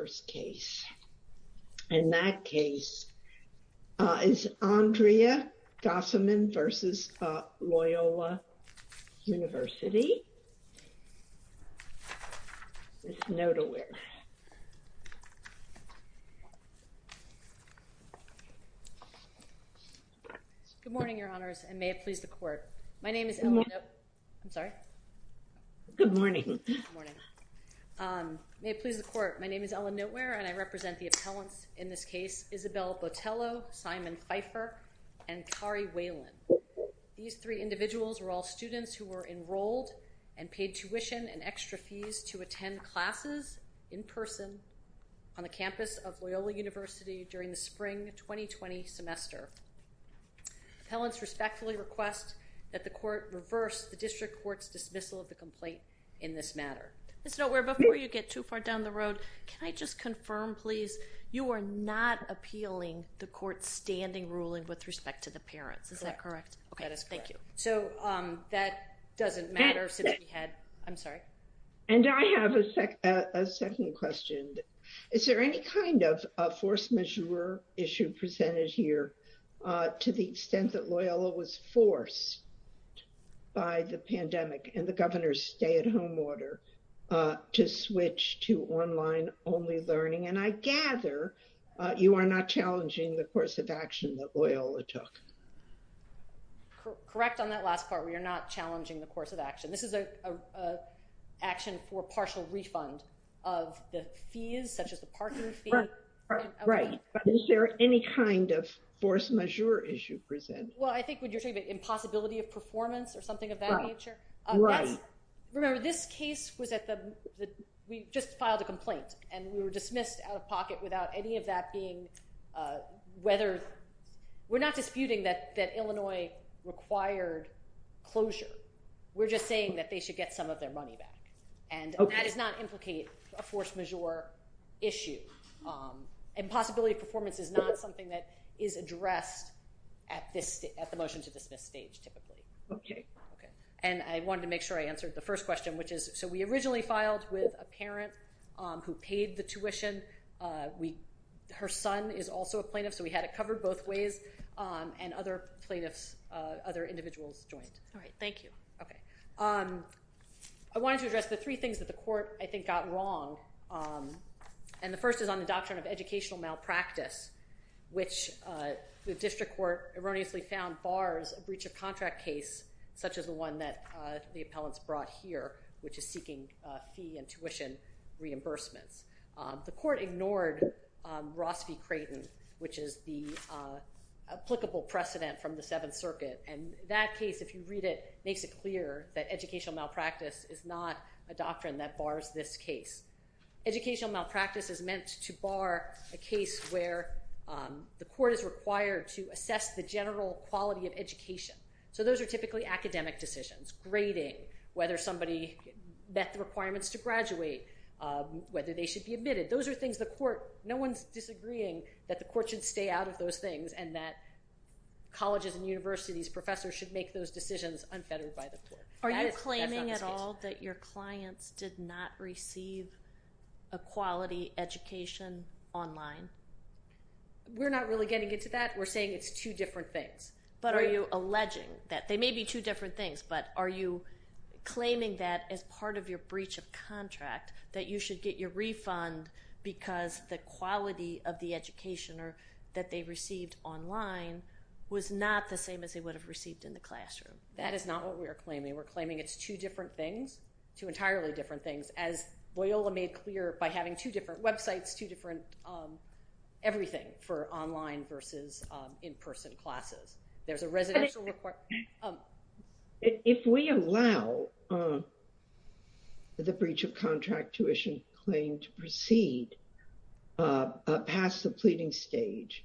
Good morning, Your Honors, and may it please the Court. My name is Eleanor—I'm sorry? Good morning. Good morning. May it please the Court, my name is Ellen Notewear, and I represent the appellants in this case, Isabelle Botello, Simon Pfeiffer, and Kari Whalen. These three individuals were all students who were enrolled and paid tuition and extra fees to attend classes in person on the campus of Loyola University during the spring 2020 semester. Appellants respectfully request that the Court reverse the District Court's dismissal of the complaint in this matter. Ms. Notewear, before you get too far down the road, can I just confirm, please, you are not appealing the Court's standing ruling with respect to the parents, is that correct? That is correct. Okay, thank you. So that doesn't matter since we had—I'm sorry? And I have a second question. Is there any kind of a force majeure issue presented here to the extent that Loyola was forced by the pandemic and the governor's stay-at-home order to switch to online-only learning? And I gather you are not challenging the course of action that Loyola took. Correct on that last part, we are not challenging the course of action. This is an action for partial refund of the fees, such as the parking fee. Right, but is there any kind of force majeure issue presented? Well, I think what you're talking about, impossibility of performance or something of that nature? Right. Remember, this case was at the—we just filed a complaint and we were dismissed out of pocket without any of that being—we're not disputing that Illinois required closure, we're just saying that they should get some of their money back. And that does not implicate a force majeure issue. And possibility of performance is not something that is addressed at the motion to dismiss stage typically. Okay. Okay. And I wanted to make sure I answered the first question, which is, so we originally filed with a parent who paid the tuition. Her son is also a plaintiff, so we had it covered both ways, and other plaintiffs, other individuals joined. All right. Thank you. Okay. I wanted to address the three things that the court, I think, got wrong. And the first is on the doctrine of educational malpractice, which the district court erroneously found bars a breach of contract case such as the one that the appellants brought here, which is seeking fee and tuition reimbursements. The court ignored Ross v. Creighton, which is the applicable precedent from the Seventh Circuit. And that case, if you read it, makes it clear that educational malpractice is not a doctrine that bars this case. Educational malpractice is meant to bar a case where the court is required to assess the general quality of education. So those are typically academic decisions, grading, whether somebody met the requirements to graduate, whether they should be admitted. Those are things the court, no one's disagreeing that the court should stay out of those things and that colleges and universities, professors should make those decisions unfettered by the court. Are you claiming at all that your clients did not receive a quality education online? We're not really getting into that. We're saying it's two different things. But are you alleging that they may be two different things, but are you claiming that as part of your breach of contract that you should get your refund because the quality of the education that they received online was not the same as they would have received in the classroom? That is not what we are claiming. We're claiming it's two different things, two entirely different things, as Loyola made clear by having two different websites, two different everything for online versus in-person classes. There's a residential report. If we allow the breach of contract tuition claim to proceed past the pleading stage,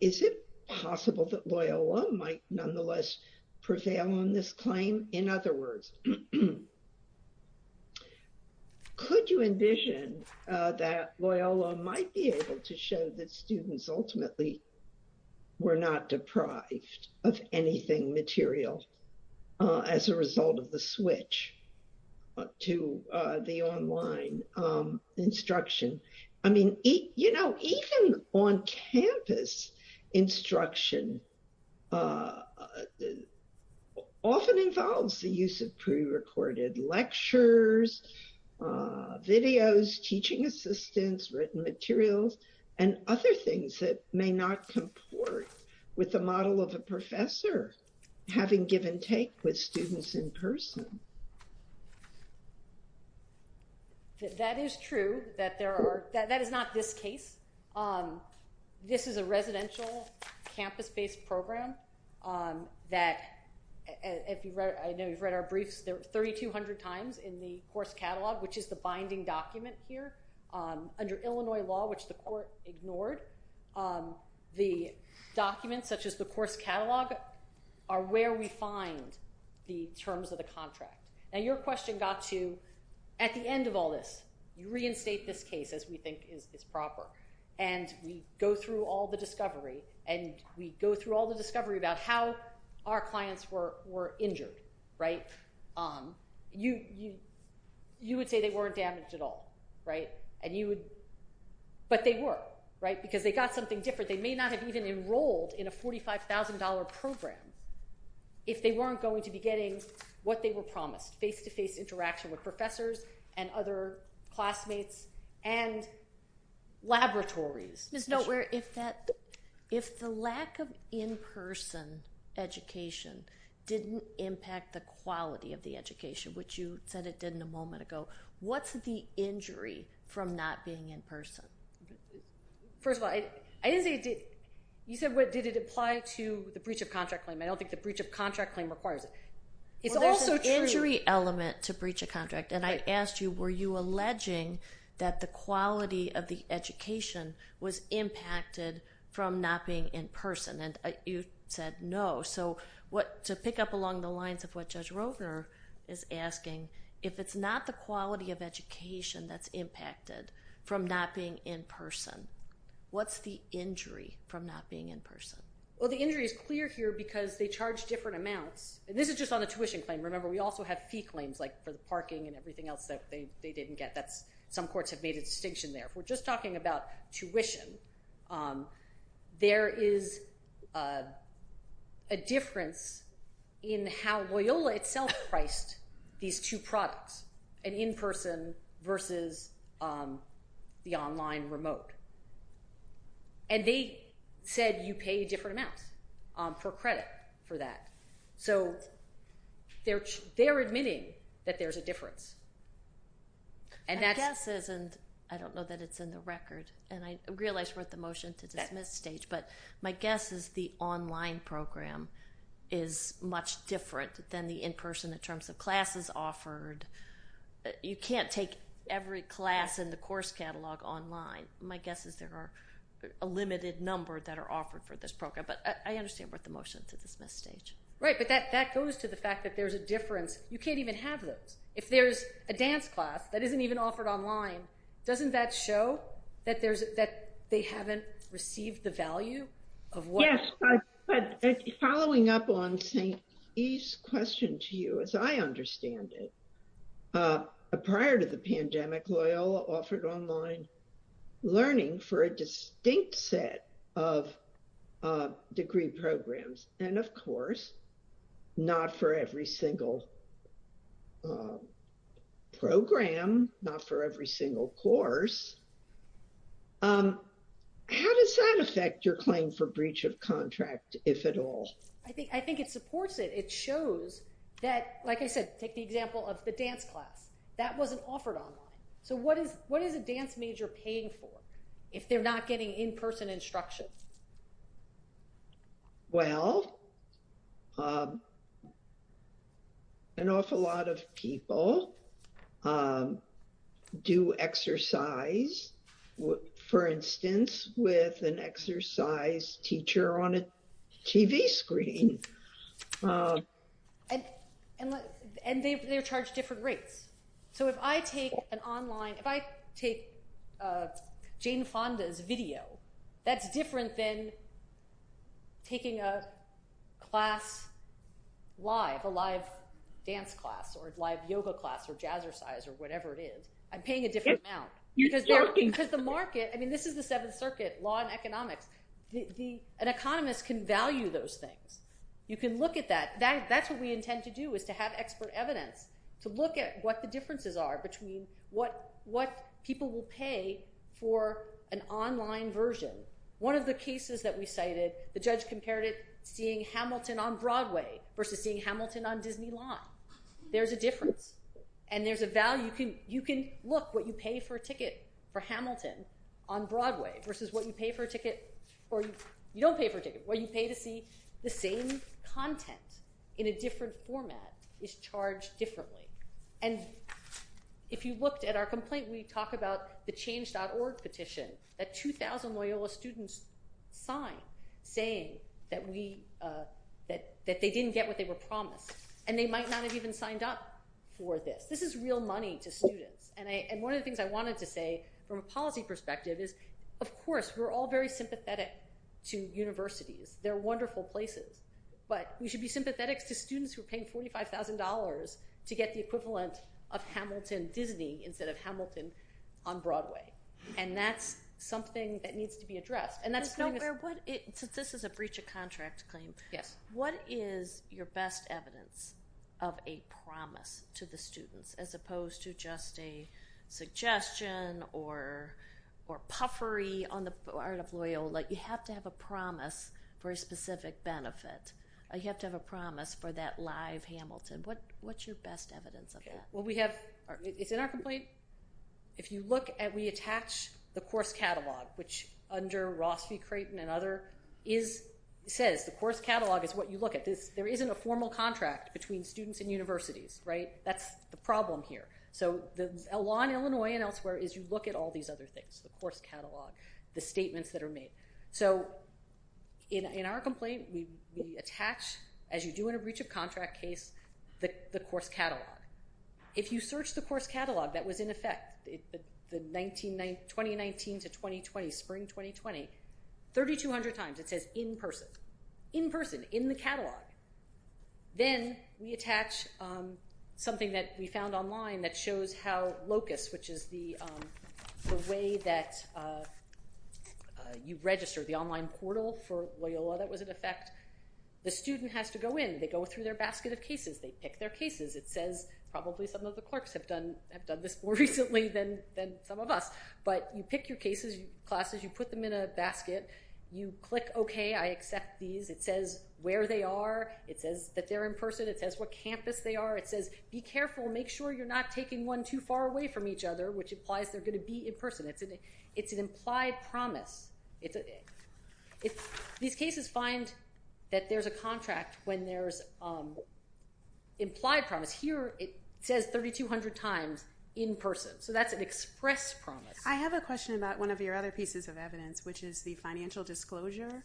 is it possible that Loyola might nonetheless prevail on this claim? In other words, could you envision that Loyola might be able to show that students ultimately were not deprived of anything material as a result of the switch to the online instruction? I mean, you know, even on campus, instruction often involves the use of prerecorded lectures, videos, teaching assistants, written materials, and other things that may not comport with the model of a professor having give and take with students in person. That is true, that there are, that is not this case. This is a residential campus-based program that, I know you've read our briefs, there are 3,200 times in the course catalog, which is the binding document here. Under Illinois law, which the court ignored, the documents, such as the course catalog, are where we find the terms of the contract. Now, your question got to, at the end of all this, you reinstate this case as we think is proper, and we go through all the discovery, and we go through all the discovery about how our clients were injured, right? You would say they weren't damaged at all, right? But they were, right? Because they got something different. They may not have even enrolled in a $45,000 program if they weren't going to be getting what they were promised, face-to-face interaction with professors and other classmates and laboratories. Ms. Notewear, if the lack of in-person education didn't impact the quality of the education, which you said it didn't a moment ago, what's the injury from not being in person? First of all, I didn't say it did. You said, did it apply to the breach of contract claim? I don't think the breach of contract claim requires it. It's also true. Well, there's an injury element to breach of contract, and I asked you, were you alleging that the quality of the education was impacted from not being in person? And you said no. So to pick up along the lines of what Judge Rovner is asking, if it's not the quality of education that's impacted from not being in person, what's the injury from not being in person? Well, the injury is clear here because they charge different amounts, and this is just on a tuition claim. Remember, we also have fee claims for the parking and everything else that they didn't get. Some courts have made a distinction there. If we're just talking about tuition, there is a difference in how Loyola itself priced these two products, an in-person versus the online remote. And they said you pay different amounts for credit for that. So they're admitting that there's a difference. And that's- My guess is, and I don't know that it's in the record, and I realize we're at the motion to dismiss stage, but my guess is the online program is much different than the in-person in terms of classes offered. You can't take every class in the course catalog online. My guess is there are a limited number that are offered for this program. But I understand we're at the motion to dismiss stage. Right, but that goes to the fact that there's a difference. You can't even have those. If there's a dance class that isn't even offered online, doesn't that show that they haven't received the value of what- Yes, but following up on St. E's question to you, as I understand it, prior to the pandemic, Loyola offered online learning for a distinct set of degree programs. And of course, not for every single program, not for every single course. How does that affect your claim for breach of contract, if at all? I think it supports it. It shows that, like I said, take the example of the dance class. That wasn't offered online. So what is a dance major paying for if they're not getting in-person instruction? Well, an awful lot of people do exercise, for instance, with an exercise teacher on a TV screen. And they're charged different rates. So if I take Jane Fonda's video, that's different than taking a class live, a live dance class, or a live yoga class, or jazzercise, or whatever it is. I'm paying a different amount because the market, I mean, this is the Seventh Circuit, law and economics. An economist can value those things. You can look at that. That's what we intend to do, is to have expert evidence to look at what the differences are between what people will pay for an online version. One of the cases that we cited, the judge compared it to seeing Hamilton on Broadway versus seeing Hamilton on Disneyland. There's a difference. And there's a value. You can look what you pay for a ticket for Hamilton on Broadway versus what you pay for a ticket, or you don't pay for a ticket, or you pay to see the same content in a different format is charged differently. And if you looked at our complaint, we talk about the change.org petition that 2,000 Loyola students signed saying that they didn't get what they were promised. And they might not have even signed up for this. This is real money to students. And one of the things I wanted to say from a policy perspective is, of course, we're all very sympathetic to universities. They're wonderful places. But we should be sympathetic to students who are paying $45,000 to get the equivalent of Hamilton Disney instead of Hamilton on Broadway. And that's something that needs to be addressed. And that's something that's... This is a breach of contract claim. Yes. What is your best evidence of a promise to the students as opposed to just a suggestion or puffery on the part of Loyola? You have to have a promise for a specific benefit. You have to have a promise for that live Hamilton. What's your best evidence of that? Well, we have... It's in our complaint. If you look at... We attach the course catalog, which under Ross v. Creighton and other says, the course catalog is what you look at. There isn't a formal contract between students and universities, right? That's the problem here. So the law in Illinois and elsewhere is you look at all these other things, the course catalog, the statements that are made. So in our complaint, we attach, as you do in a breach of contract case, the course catalog. If you search the course catalog that was in effect, the 2019 to 2020, spring 2020, 3,200 times it says, in person. In person, in the catalog. Then we attach something that we found online that shows how LOCUS, which is the way that you register, the online portal for Loyola that was in effect. The student has to go in. They go through their basket of cases. They pick their cases. It says, probably some of the clerks have done this more recently than some of us. But you pick your cases, your classes, you put them in a basket. You click okay, I accept these. It says where they are. It says that they're in person. It says what campus they are. It says, be careful, make sure you're not taking one too far away from each other, which implies they're going to be in person. It's an implied promise. These cases find that there's a contract when there's implied promise. Here, it says 3,200 times, in person. So that's an express promise. I have a question about one of your other pieces of evidence, which is the financial disclosure.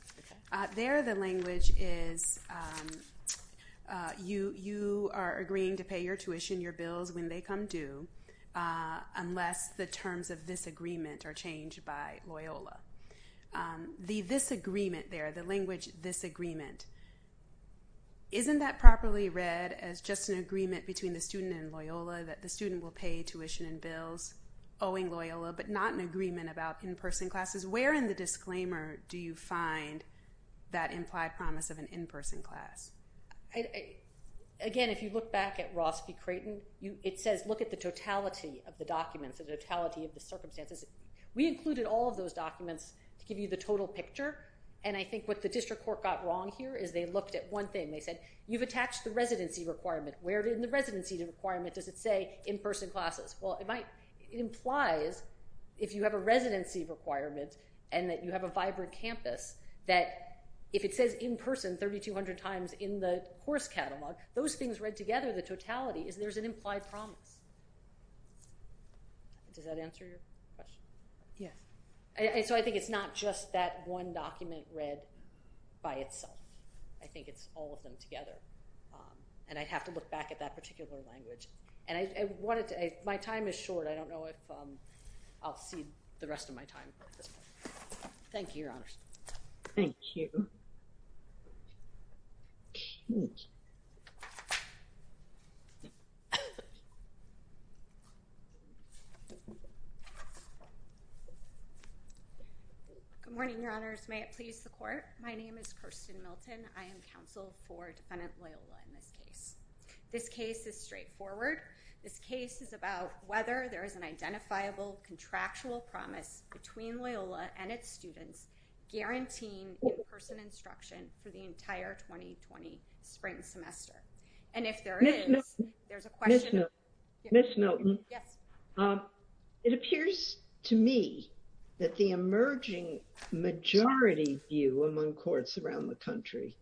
There, the language is, you are agreeing to pay your tuition, your bills, when they come due, unless the terms of this agreement are changed by Loyola. The this agreement there, the language, this agreement, isn't that properly read as just an agreement between the student and Loyola, that the student will pay tuition and bills owing Loyola, but not an agreement about in-person classes? Where in the disclaimer do you find that implied promise of an in-person class? Again, if you look back at Ross v. Creighton, it says, look at the totality of the documents, the totality of the circumstances. We included all of those documents to give you the total picture. And I think what the district court got wrong here is they looked at one thing. They said, you've attached the residency requirement. Where in the residency requirement does it say in-person classes? Well, it might, it implies if you have a residency requirement and that you have a vibrant campus, that if it says in-person 3,200 times in the course catalog, those things read together, the totality, is there's an implied promise. Does that answer your question? Yes. And so I think it's not just that one document read by itself. I think it's all of them together. And I'd have to look back at that particular language. And I wanted to, my time is short. I don't know if I'll see the rest of my time at this point. Thank you, your honors. Thank you. Good morning, your honors. May it please the court. My name is Kirsten Milton. I am counsel for Defendant Loyola in this case. This case is straightforward. This case is about whether there is an identifiable contractual promise between Loyola and its students guaranteeing in-person instruction for the entire 2020 spring semester. And if there is, there's a question. Ms. Milton. Yes. It appears to me that the emerging majority view among courts around the country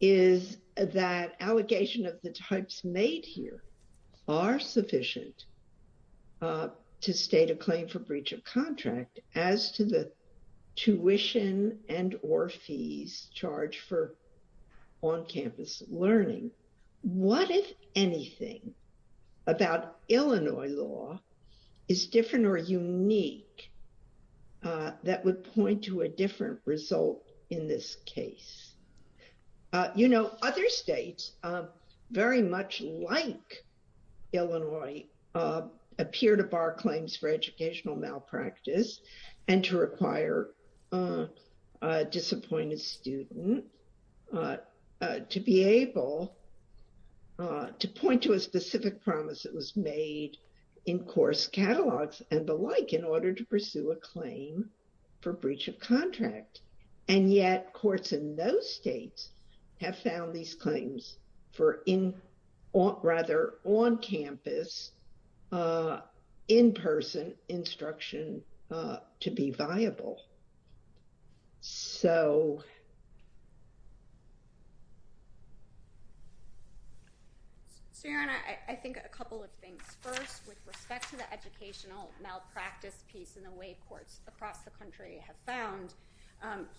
is that allegation of the types made here are sufficient to state a claim for breach of contract as to the tuition and or fees charged for on-campus learning. What, if anything, about Illinois law is different or unique that would point to a different result in this case. You know, other states, very much like Illinois, appear to bar claims for educational malpractice and to require a disappointed student to be able to point to a specific promise that was made in course catalogs and the like in order to pursue a claim for breach of contract. And yet, courts in those states have found these claims for in, rather on-campus, in-person instruction to be viable. So. So, Your Honor, I think a couple of things. First, with respect to the educational malpractice piece in the way courts across the country have found,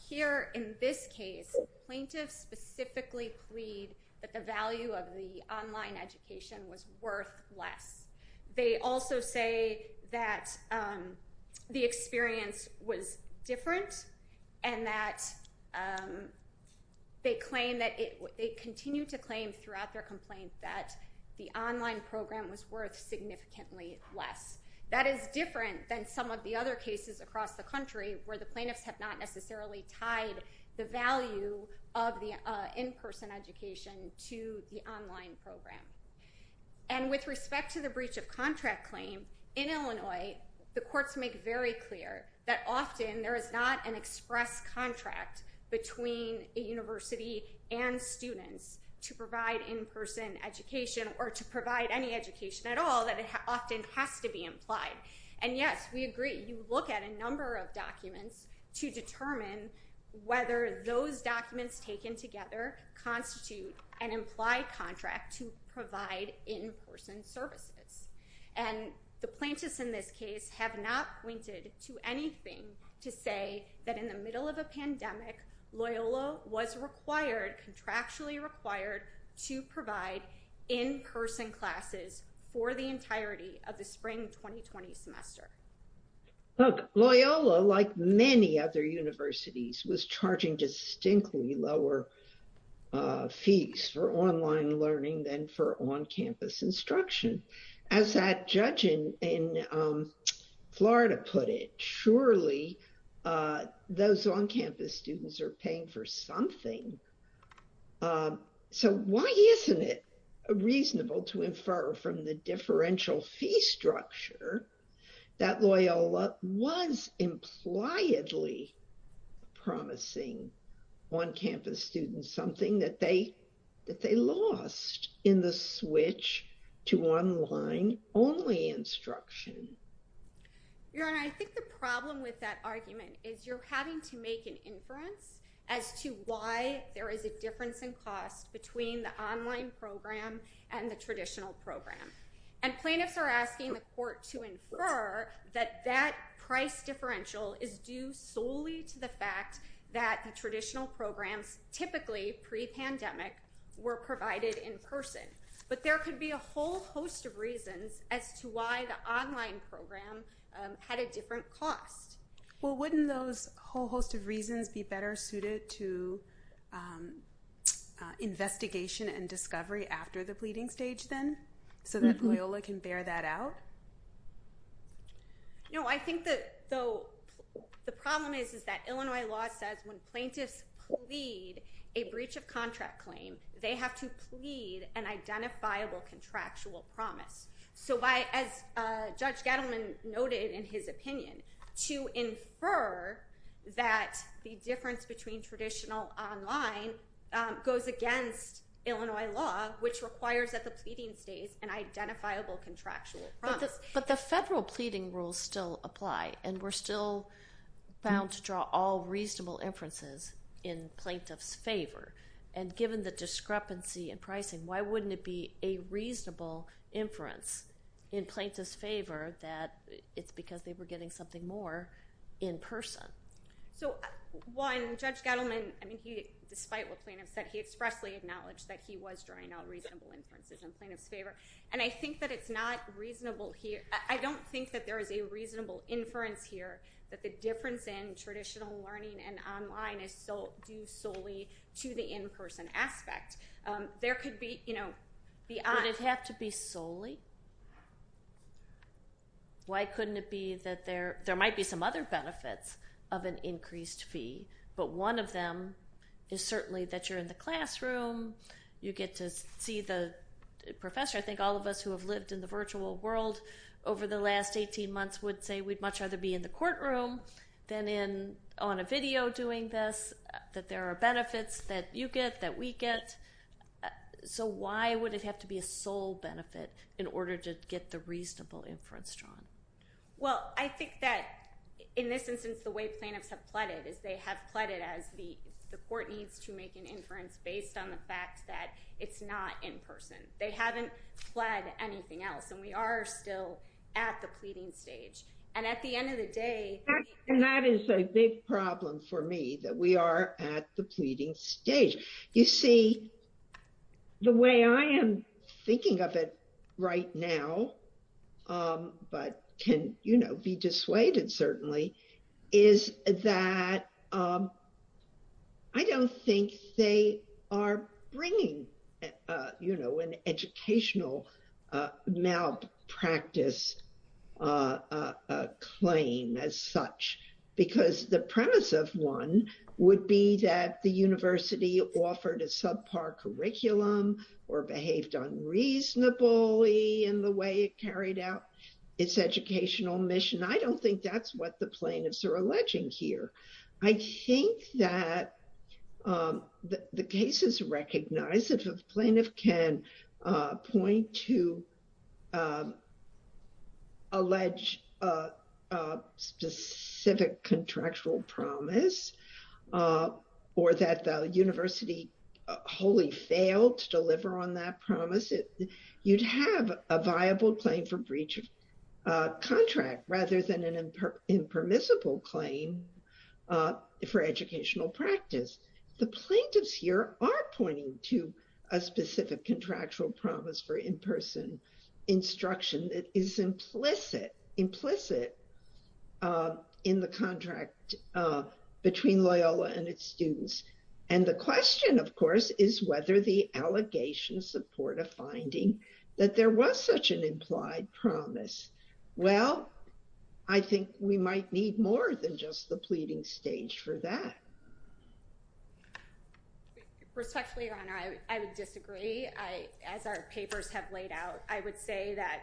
here in this case, plaintiffs specifically plead that the value of the online education was worth less. and that there was a difference in the quality of instruction. They continue to claim throughout their complaint that the online program was worth significantly less. That is different than some of the other cases across the country where the plaintiffs have not necessarily tied the value of the in-person education to the online program. And with respect to the breach of contract claim, in Illinois, the courts make very clear that often there is not an express contract between a university and students to provide in-person education or to provide any education at all that often has to be implied. And yes, we agree, you look at a number of documents to determine whether those documents taken together constitute an implied contract to provide in-person services. And the plaintiffs in this case have not pointed to anything to say that in the middle of a pandemic, Loyola was required, contractually required, to provide in-person classes for the entirety of the spring 2020 semester. Look, Loyola, like many other universities, was charging distinctly lower fees for online learning than for on-campus instruction. As that judge in Florida put it, surely those on-campus students are paying for something. So why isn't it reasonable to infer from the differential fee structure that Loyola was impliedly promising on-campus students something that they lost in the switch to online-only instruction? Your Honor, I think the problem with that argument is you're having to make an inference as to why there is a difference in cost between the online program and the traditional program. And plaintiffs are asking the court to infer that that price differential is due solely to the fact that the traditional programs, typically pre-pandemic, were provided in person. But there could be a whole host of reasons as to why the online program had a different cost. Well, wouldn't those whole host of reasons be better suited to investigation and discovery after the pleading stage then, so that Loyola can bear that out? No, I think the problem is that Illinois law says when plaintiffs plead a breach of contract claim, they have to plead an identifiable contractual promise. So as Judge Gettleman noted in his opinion, to infer that the difference between traditional online goes against Illinois law, which requires at the pleading stage an identifiable contractual promise. But the federal pleading rules still apply, and we're still bound to draw all reasonable inferences in plaintiffs' favor. And given the discrepancy in pricing, why wouldn't it be a reasonable inference in plaintiffs' favor that it's because they were getting something more in person? So one, Judge Gettleman, despite what plaintiffs said, he expressly acknowledged that he was drawing all reasonable inferences in plaintiffs' favor. And I think that it's not reasonable here. I don't think that there is a reasonable inference here that the difference in traditional learning and online is due solely to the in-person aspect. There could be, you know, the odd. Would it have to be solely? Why couldn't it be that there, there might be some other benefits of an increased fee, but one of them is certainly that you're in the classroom, you get to see the professor. I think all of us who have lived in the virtual world over the last 18 months would say we'd much rather be in the courtroom than on a video doing this, that there are benefits that you get, that we get. So why would it have to be a sole benefit in order to get the reasonable inference drawn? Well, I think that in this instance, the way plaintiffs have pleaded is they have pleaded as the court needs to make an inference based on the fact that it's not in person. They haven't pled anything else. And we are still at the pleading stage. And at the end of the day- And that is a big problem for me, that we are at the pleading stage. You see, the way I am thinking of it right now, but can, you know, be dissuaded certainly, is that I don't think they are bringing, you know, an educational malpractice claim as such, because the premise of one would be that the university offered a subpar curriculum or behaved unreasonably in the way it carried out its educational mission. I don't think that's what the plaintiffs are alleging here. I think that the case is recognized if a plaintiff can point to allege a specific contractual promise, or that the university wholly failed to deliver on that promise, you'd have a viable claim for breach of contract rather than an impermissible claim for educational practice. The plaintiffs here are pointing to a specific contractual promise for in-person instruction that is implicit in the contract between Loyola and its students. And the question, of course, is whether the allegations support a finding that there was such an implied promise. Well, I think we might need more than just the pleading stage for that. Respectfully, Your Honor, I would disagree. As our papers have laid out, I would say that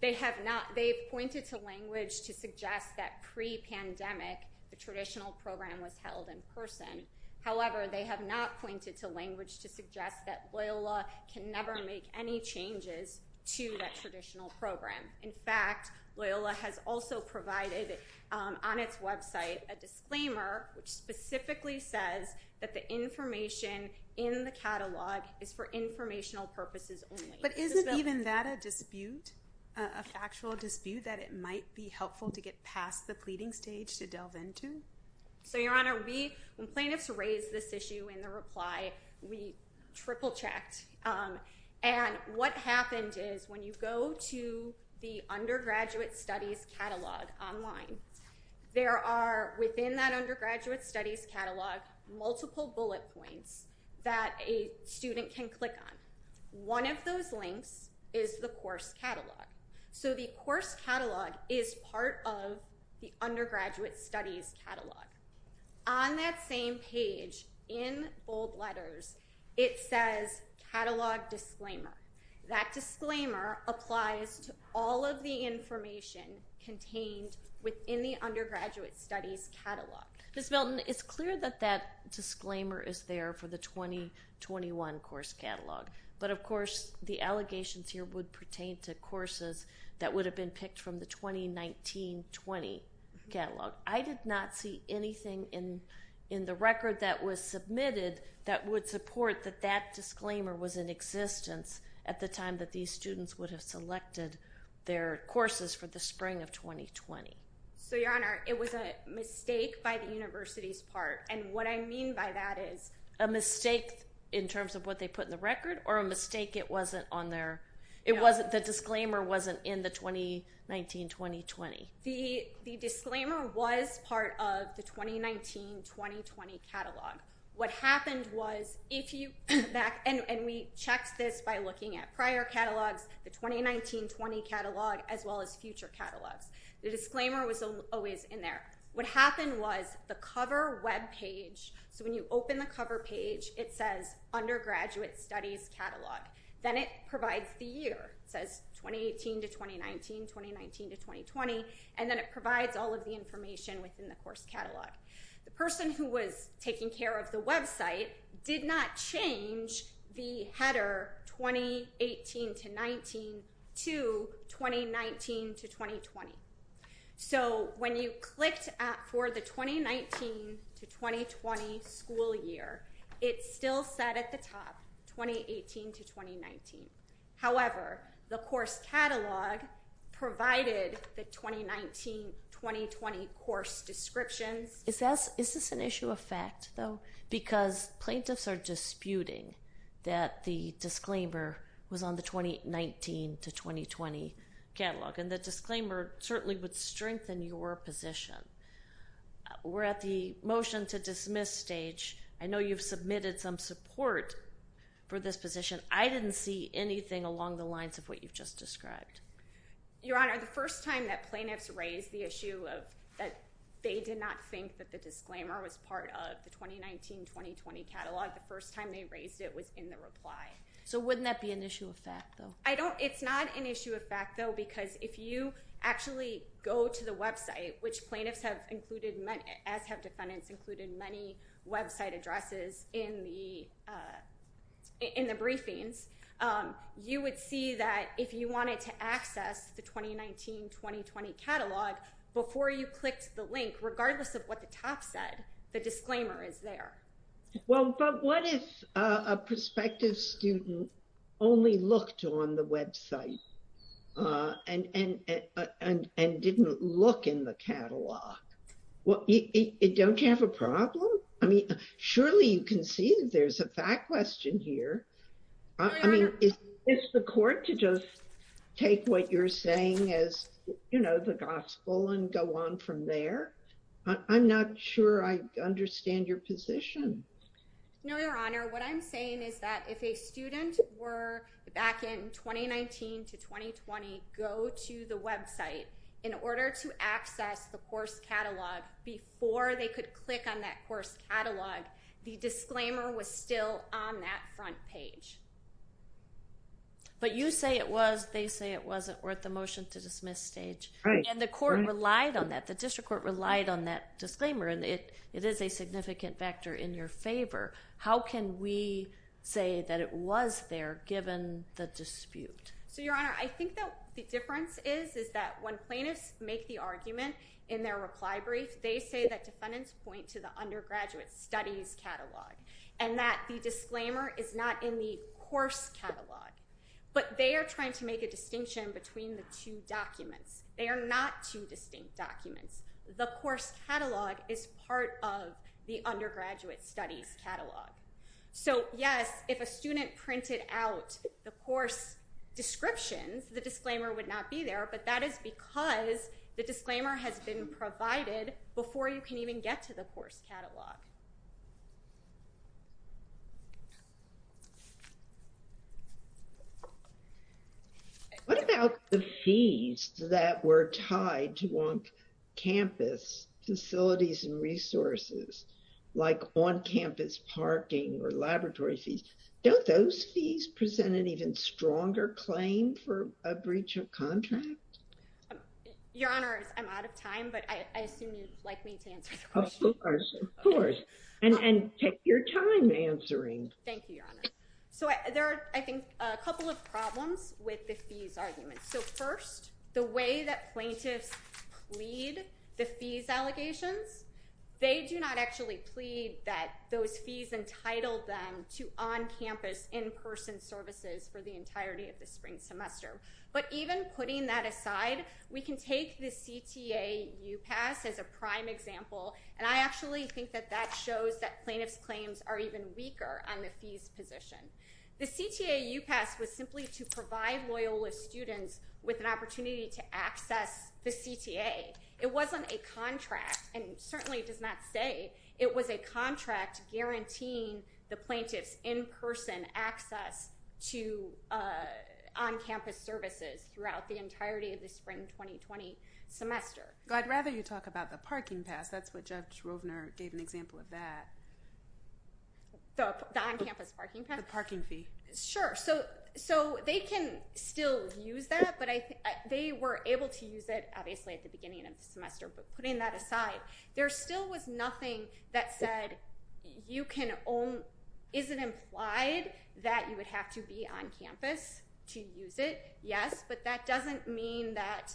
they have not, they pointed to language to suggest that pre-pandemic, the traditional program was held in person. However, they have not pointed to language to suggest that Loyola can never make any changes to that traditional program. In fact, Loyola has also provided on its website a disclaimer which specifically says that the information in the catalog is for informational purposes only. But isn't even that a dispute, a factual dispute that it might be helpful to get past the pleading stage to delve into? So, Your Honor, we, when plaintiffs raised this issue in the reply, we triple-checked. And what happened is when you go to the Undergraduate Studies Catalog online, there are, within that Undergraduate Studies Catalog, multiple bullet points that a student can click on. One of those links is the course catalog. So the course catalog is part of the Undergraduate Studies Catalog. On that same page, in bold letters, it says Catalog Disclaimer. That disclaimer applies to all of the information contained within the Undergraduate Studies Catalog. Ms. Milton, it's clear that that disclaimer is there for the 2021 course catalog. But of course, the allegations here would pertain to courses that would have been picked from the 2019-20 catalog. I did not see anything in the record that was submitted that would support that that disclaimer was in existence at the time that these students would have selected their courses for the spring of 2020. So, Your Honor, it was a mistake by the university's part. And what I mean by that is- A mistake in terms of what they put in the record or a mistake it wasn't on their, it wasn't, the disclaimer wasn't in the 2019-2020? The disclaimer was part of the 2019-2020 catalog. What happened was, if you back, and we checked this by looking at prior catalogs, the 2019-20 catalog, as well as future catalogs. The disclaimer was always in there. What happened was the cover webpage, so when you open the cover page, it says Undergraduate Studies Catalog. Then it provides the year. It says 2018-2019, 2019-2020, and then it provides all of the information within the course catalog. The person who was taking care of the website did not change the header 2018-19 to 2019-2020. So, when you clicked for the 2019-2020 school year, it still said at the top 2018-2019. However, the course catalog provided the 2019-2020 course descriptions. Is this an issue of fact, though? Because plaintiffs are disputing that the disclaimer was on the 2019-2020 catalog, and the disclaimer certainly would strengthen your position. We're at the motion to dismiss stage. I know you've submitted some support for this position. I didn't see anything along the lines of what you've just described. Your Honor, the first time that plaintiffs raised the issue of that they did not think that the disclaimer was part of the 2019-2020 catalog, the first time they raised it was in the reply. So, wouldn't that be an issue of fact, though? It's not an issue of fact, though, because if you actually go to the website, which plaintiffs have included, as have defendants included, in many website addresses in the briefings, you would see that if you wanted to access the 2019-2020 catalog before you clicked the link, regardless of what the top said, the disclaimer is there. Well, but what if a prospective student only looked on the website and didn't look in the catalog? Well, don't you have a problem? I mean, surely you can see that there's a fact question here. I mean, is the court to just take what you're saying as the gospel and go on from there? I'm not sure I understand your position. No, Your Honor, what I'm saying is that if a student were back in 2019-2020, go to the website in order to access the course catalog before they could click on that course catalog, the disclaimer was still on that front page. But you say it was, they say it wasn't, we're at the motion to dismiss stage. And the court relied on that, the district court relied on that disclaimer, and it is a significant factor in your favor. How can we say that it was there, given the dispute? So, Your Honor, I think that the difference is, is that when plaintiffs make the argument in their reply brief, they say that defendants point to the undergraduate studies catalog, and that the disclaimer is not in the course catalog. But they are trying to make a distinction between the two documents. They are not two distinct documents. The course catalog is part of the undergraduate studies catalog. So, yes, if a student printed out the course descriptions, the disclaimer would not be there, but that is because the disclaimer has been provided before you can even get to the course catalog. What about the fees that were tied to on-campus facilities and resources, like on-campus parking or laboratory fees? Don't those fees present an even stronger claim for a breach of contract? Your Honor, I'm out of time, but I assume you'd like me to answer the question. Of course, of course. And take your time answering. Thank you, Your Honor. So, there are, I think, a couple of problems with the fees argument. So, first, the way that plaintiffs plead the fees allegations, they do not actually plead that those fees entitled them to on-campus, in-person services for the entirety of the spring semester. But even putting that aside, we can take the CTA U-Pass as a prime example, and I actually think that that shows that plaintiffs' claims are even weaker on the fees position. The CTA U-Pass was simply to provide Loyola students with an opportunity to access the CTA. It wasn't a contract, and it certainly does not say it was a contract guaranteeing the plaintiff's in-person access to on-campus services throughout the entirety of the spring 2020 semester. I'd rather you talk about the parking pass. That's what Judge Rovner gave an example of that. The on-campus parking pass? The parking fee. Sure, so they can still use that, but they were able to use it, obviously, at the beginning of the semester, but putting that aside, there still was nothing that said you can own, is it implied that you would have to be on campus to use it? Yes, but that doesn't mean that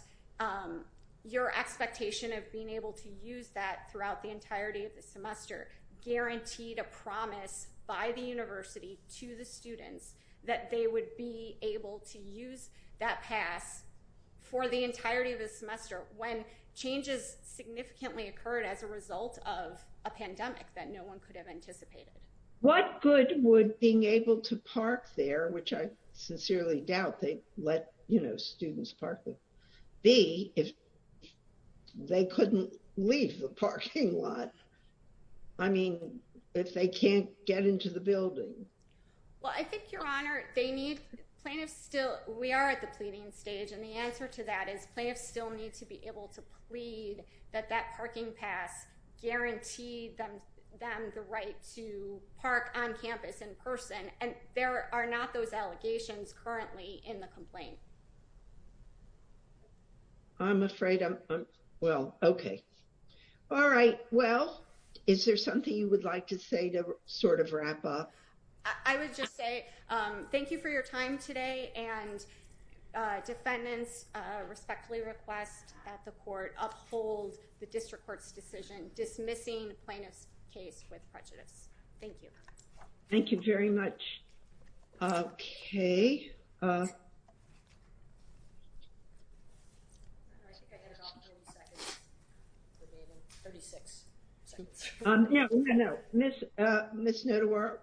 your expectation of being able to use that throughout the entirety of the semester guaranteed a promise by the university to the students that they would be able to use that pass for the entirety of the semester when changes significantly occurred as a result of a pandemic that no one could have anticipated. What good would being able to park there, which I sincerely doubt they'd let students park it, be if they couldn't leave the parking lot, I mean, if they can't get into the building? Well, I think, Your Honor, they need, plaintiffs still, we are at the pleading stage, and the answer to that is plaintiffs still need to be able to plead that that parking pass guaranteed them the right to park on campus in person, and there are not those allegations currently in the complaint. I'm afraid I'm, well, okay. All right, well, is there something you would like to say to sort of wrap up? I would just say thank you for your time today, and defendants respectfully request that the court uphold the district court's decision, dismissing the plaintiff's case with prejudice. Thank you. Thank you very much. Okay. 36 seconds. No, no, no, Ms. Notawar,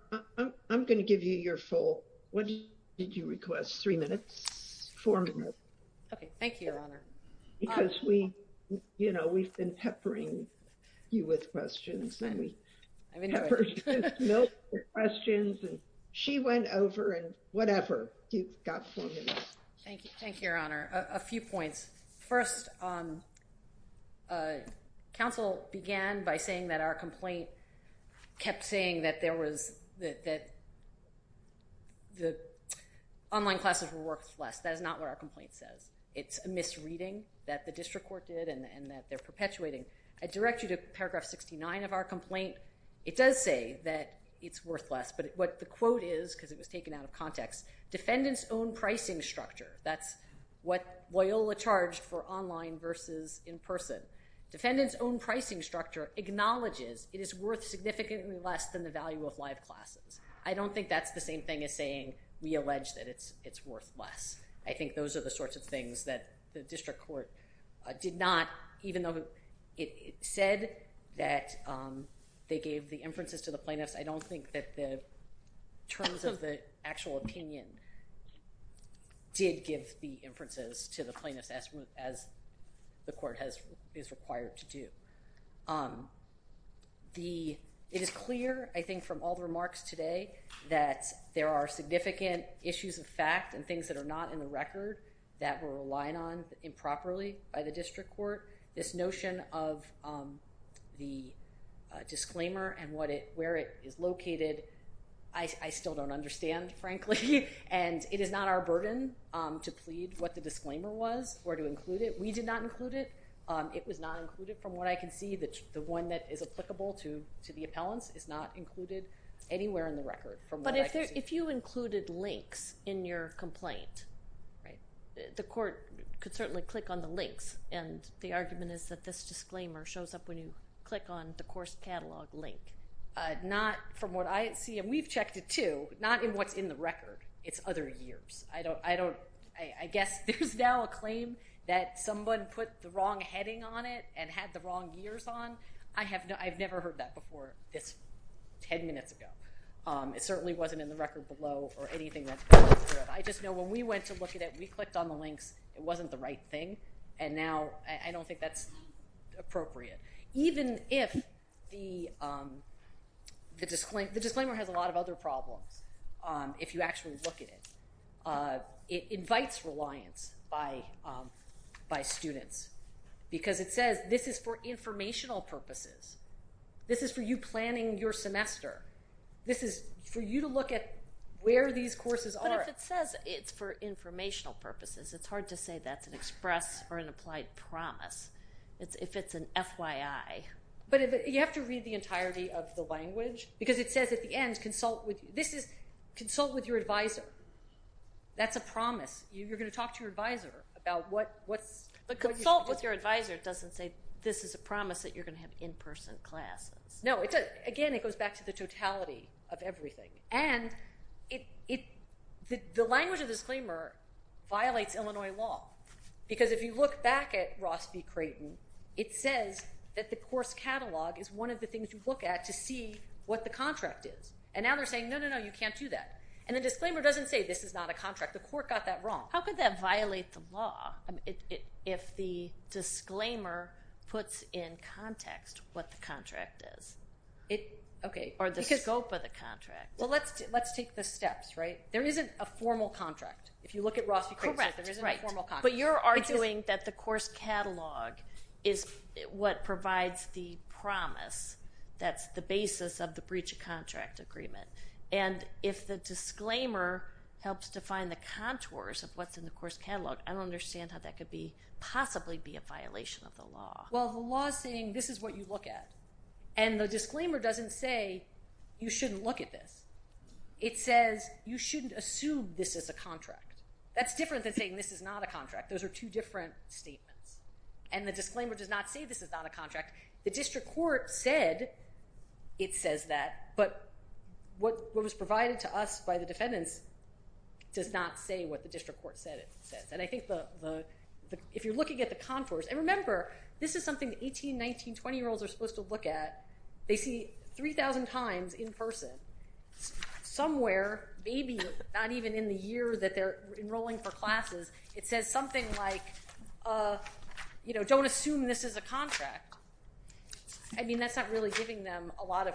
I'm gonna give you your full. What did you request? Three minutes, four minutes. Okay, thank you, Your Honor. Because we, you know, we've been peppering you with questions, and we peppered Ms. Milk with questions, and she went over, and whatever. You've got four minutes. Thank you, thank you, Your Honor. A few points. First, counsel began by saying that our complaint kept saying that there was, that the online classes were worthless. That is not what our complaint says. It's a misreading that the district court did, and that they're perpetuating. I direct you to paragraph 69 of our complaint. It does say that it's worthless, but what the quote is, because it was taken out of context, defendant's own pricing structure. That's what Loyola charged for online versus in person. Defendant's own pricing structure acknowledges it is worth significantly less than the value of live classes. I don't think that's the same thing as saying we allege that it's worthless. I think those are the sorts of things that the district court did not, even though it said that they gave the inferences to the plaintiffs, I don't think that the terms of the actual opinion did give the inferences to the plaintiffs as the court is required to do. It is clear, I think, from all the remarks today that there are significant issues of fact and things that are not in the record that we're relying on improperly by the district court. This notion of the disclaimer and where it is located, I still don't understand, frankly, and it is not our burden to plead what the disclaimer was or to include it. We did not include it. It was not included from what I can see. The one that is applicable to the appellants is not included anywhere in the record from what I can see. If you included links in your complaint, the court could certainly click on the links, and the argument is that this disclaimer shows up when you click on the course catalog link. Not from what I see, and we've checked it too, not in what's in the record. It's other years. I guess there's now a claim that someone put the wrong heading on it and had the wrong years on. I have never heard that before. It's 10 minutes ago. It certainly wasn't in the record below or anything like that. I just know when we went to look at it, we clicked on the links, it wasn't the right thing, and now I don't think that's appropriate. Even if the disclaimer has a lot of other problems if you actually look at it, it invites reliance by students because it says this is for informational purposes. This is for you planning your semester. This is for you to look at where these courses are. But if it says it's for informational purposes, it's hard to say that's an express or an applied promise if it's an FYI. But you have to read the entirety of the language because it says at the end, consult with your advisor. That's a promise. You're gonna talk to your advisor about what's. But consult with your advisor doesn't say this is a promise that you're gonna have in-person classes. No, again, it goes back to the totality of everything. And the language of disclaimer violates Illinois law because if you look back at Ross v. Creighton, it says that the course catalog is one of the things you look at to see what the contract is. And now they're saying, no, no, no, you can't do that. And the disclaimer doesn't say this is not a contract. The court got that wrong. How could that violate the law? If the disclaimer puts in context what the contract is? Or the scope of the contract? Well, let's take the steps, right? There isn't a formal contract. If you look at Ross v. Creighton, there isn't a formal contract. But you're arguing that the course catalog is what provides the promise that's the basis of the breach of contract agreement. And if the disclaimer helps define the contours of what's in the course catalog, I don't understand how that could possibly be a violation of the law. Well, the law's saying this is what you look at. And the disclaimer doesn't say you shouldn't look at this. It says you shouldn't assume this is a contract. That's different than saying this is not a contract. Those are two different statements. And the disclaimer does not say this is not a contract. The district court said it says that. But what was provided to us by the defendants does not say what the district court said it says. And I think if you're looking at the contours, and remember, this is something 18, 19, 20-year-olds are supposed to look at. They see 3,000 times in person, somewhere, maybe not even in the year that they're enrolling for classes, it says something like don't assume this is a contract. I mean, that's not really giving them a lot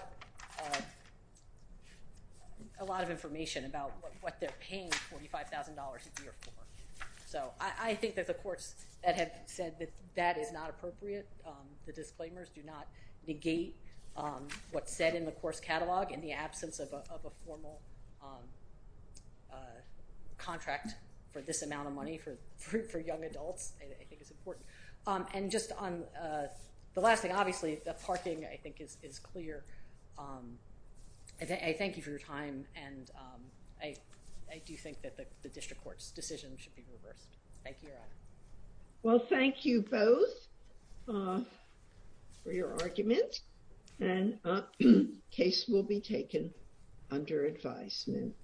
of information about what they're paying $45,000 a year for. So I think that the courts that have said that that is not appropriate, the disclaimers do not negate what's said in the course catalog in the absence of a formal contract for this amount of money for young adults. I think it's important. And just on the last thing, obviously, the parking, I think, is clear. I thank you for your time. And I do think that the district court's decision should be reversed. Thank you, Your Honor. Well, thank you both for your argument. And case will be taken under advisement.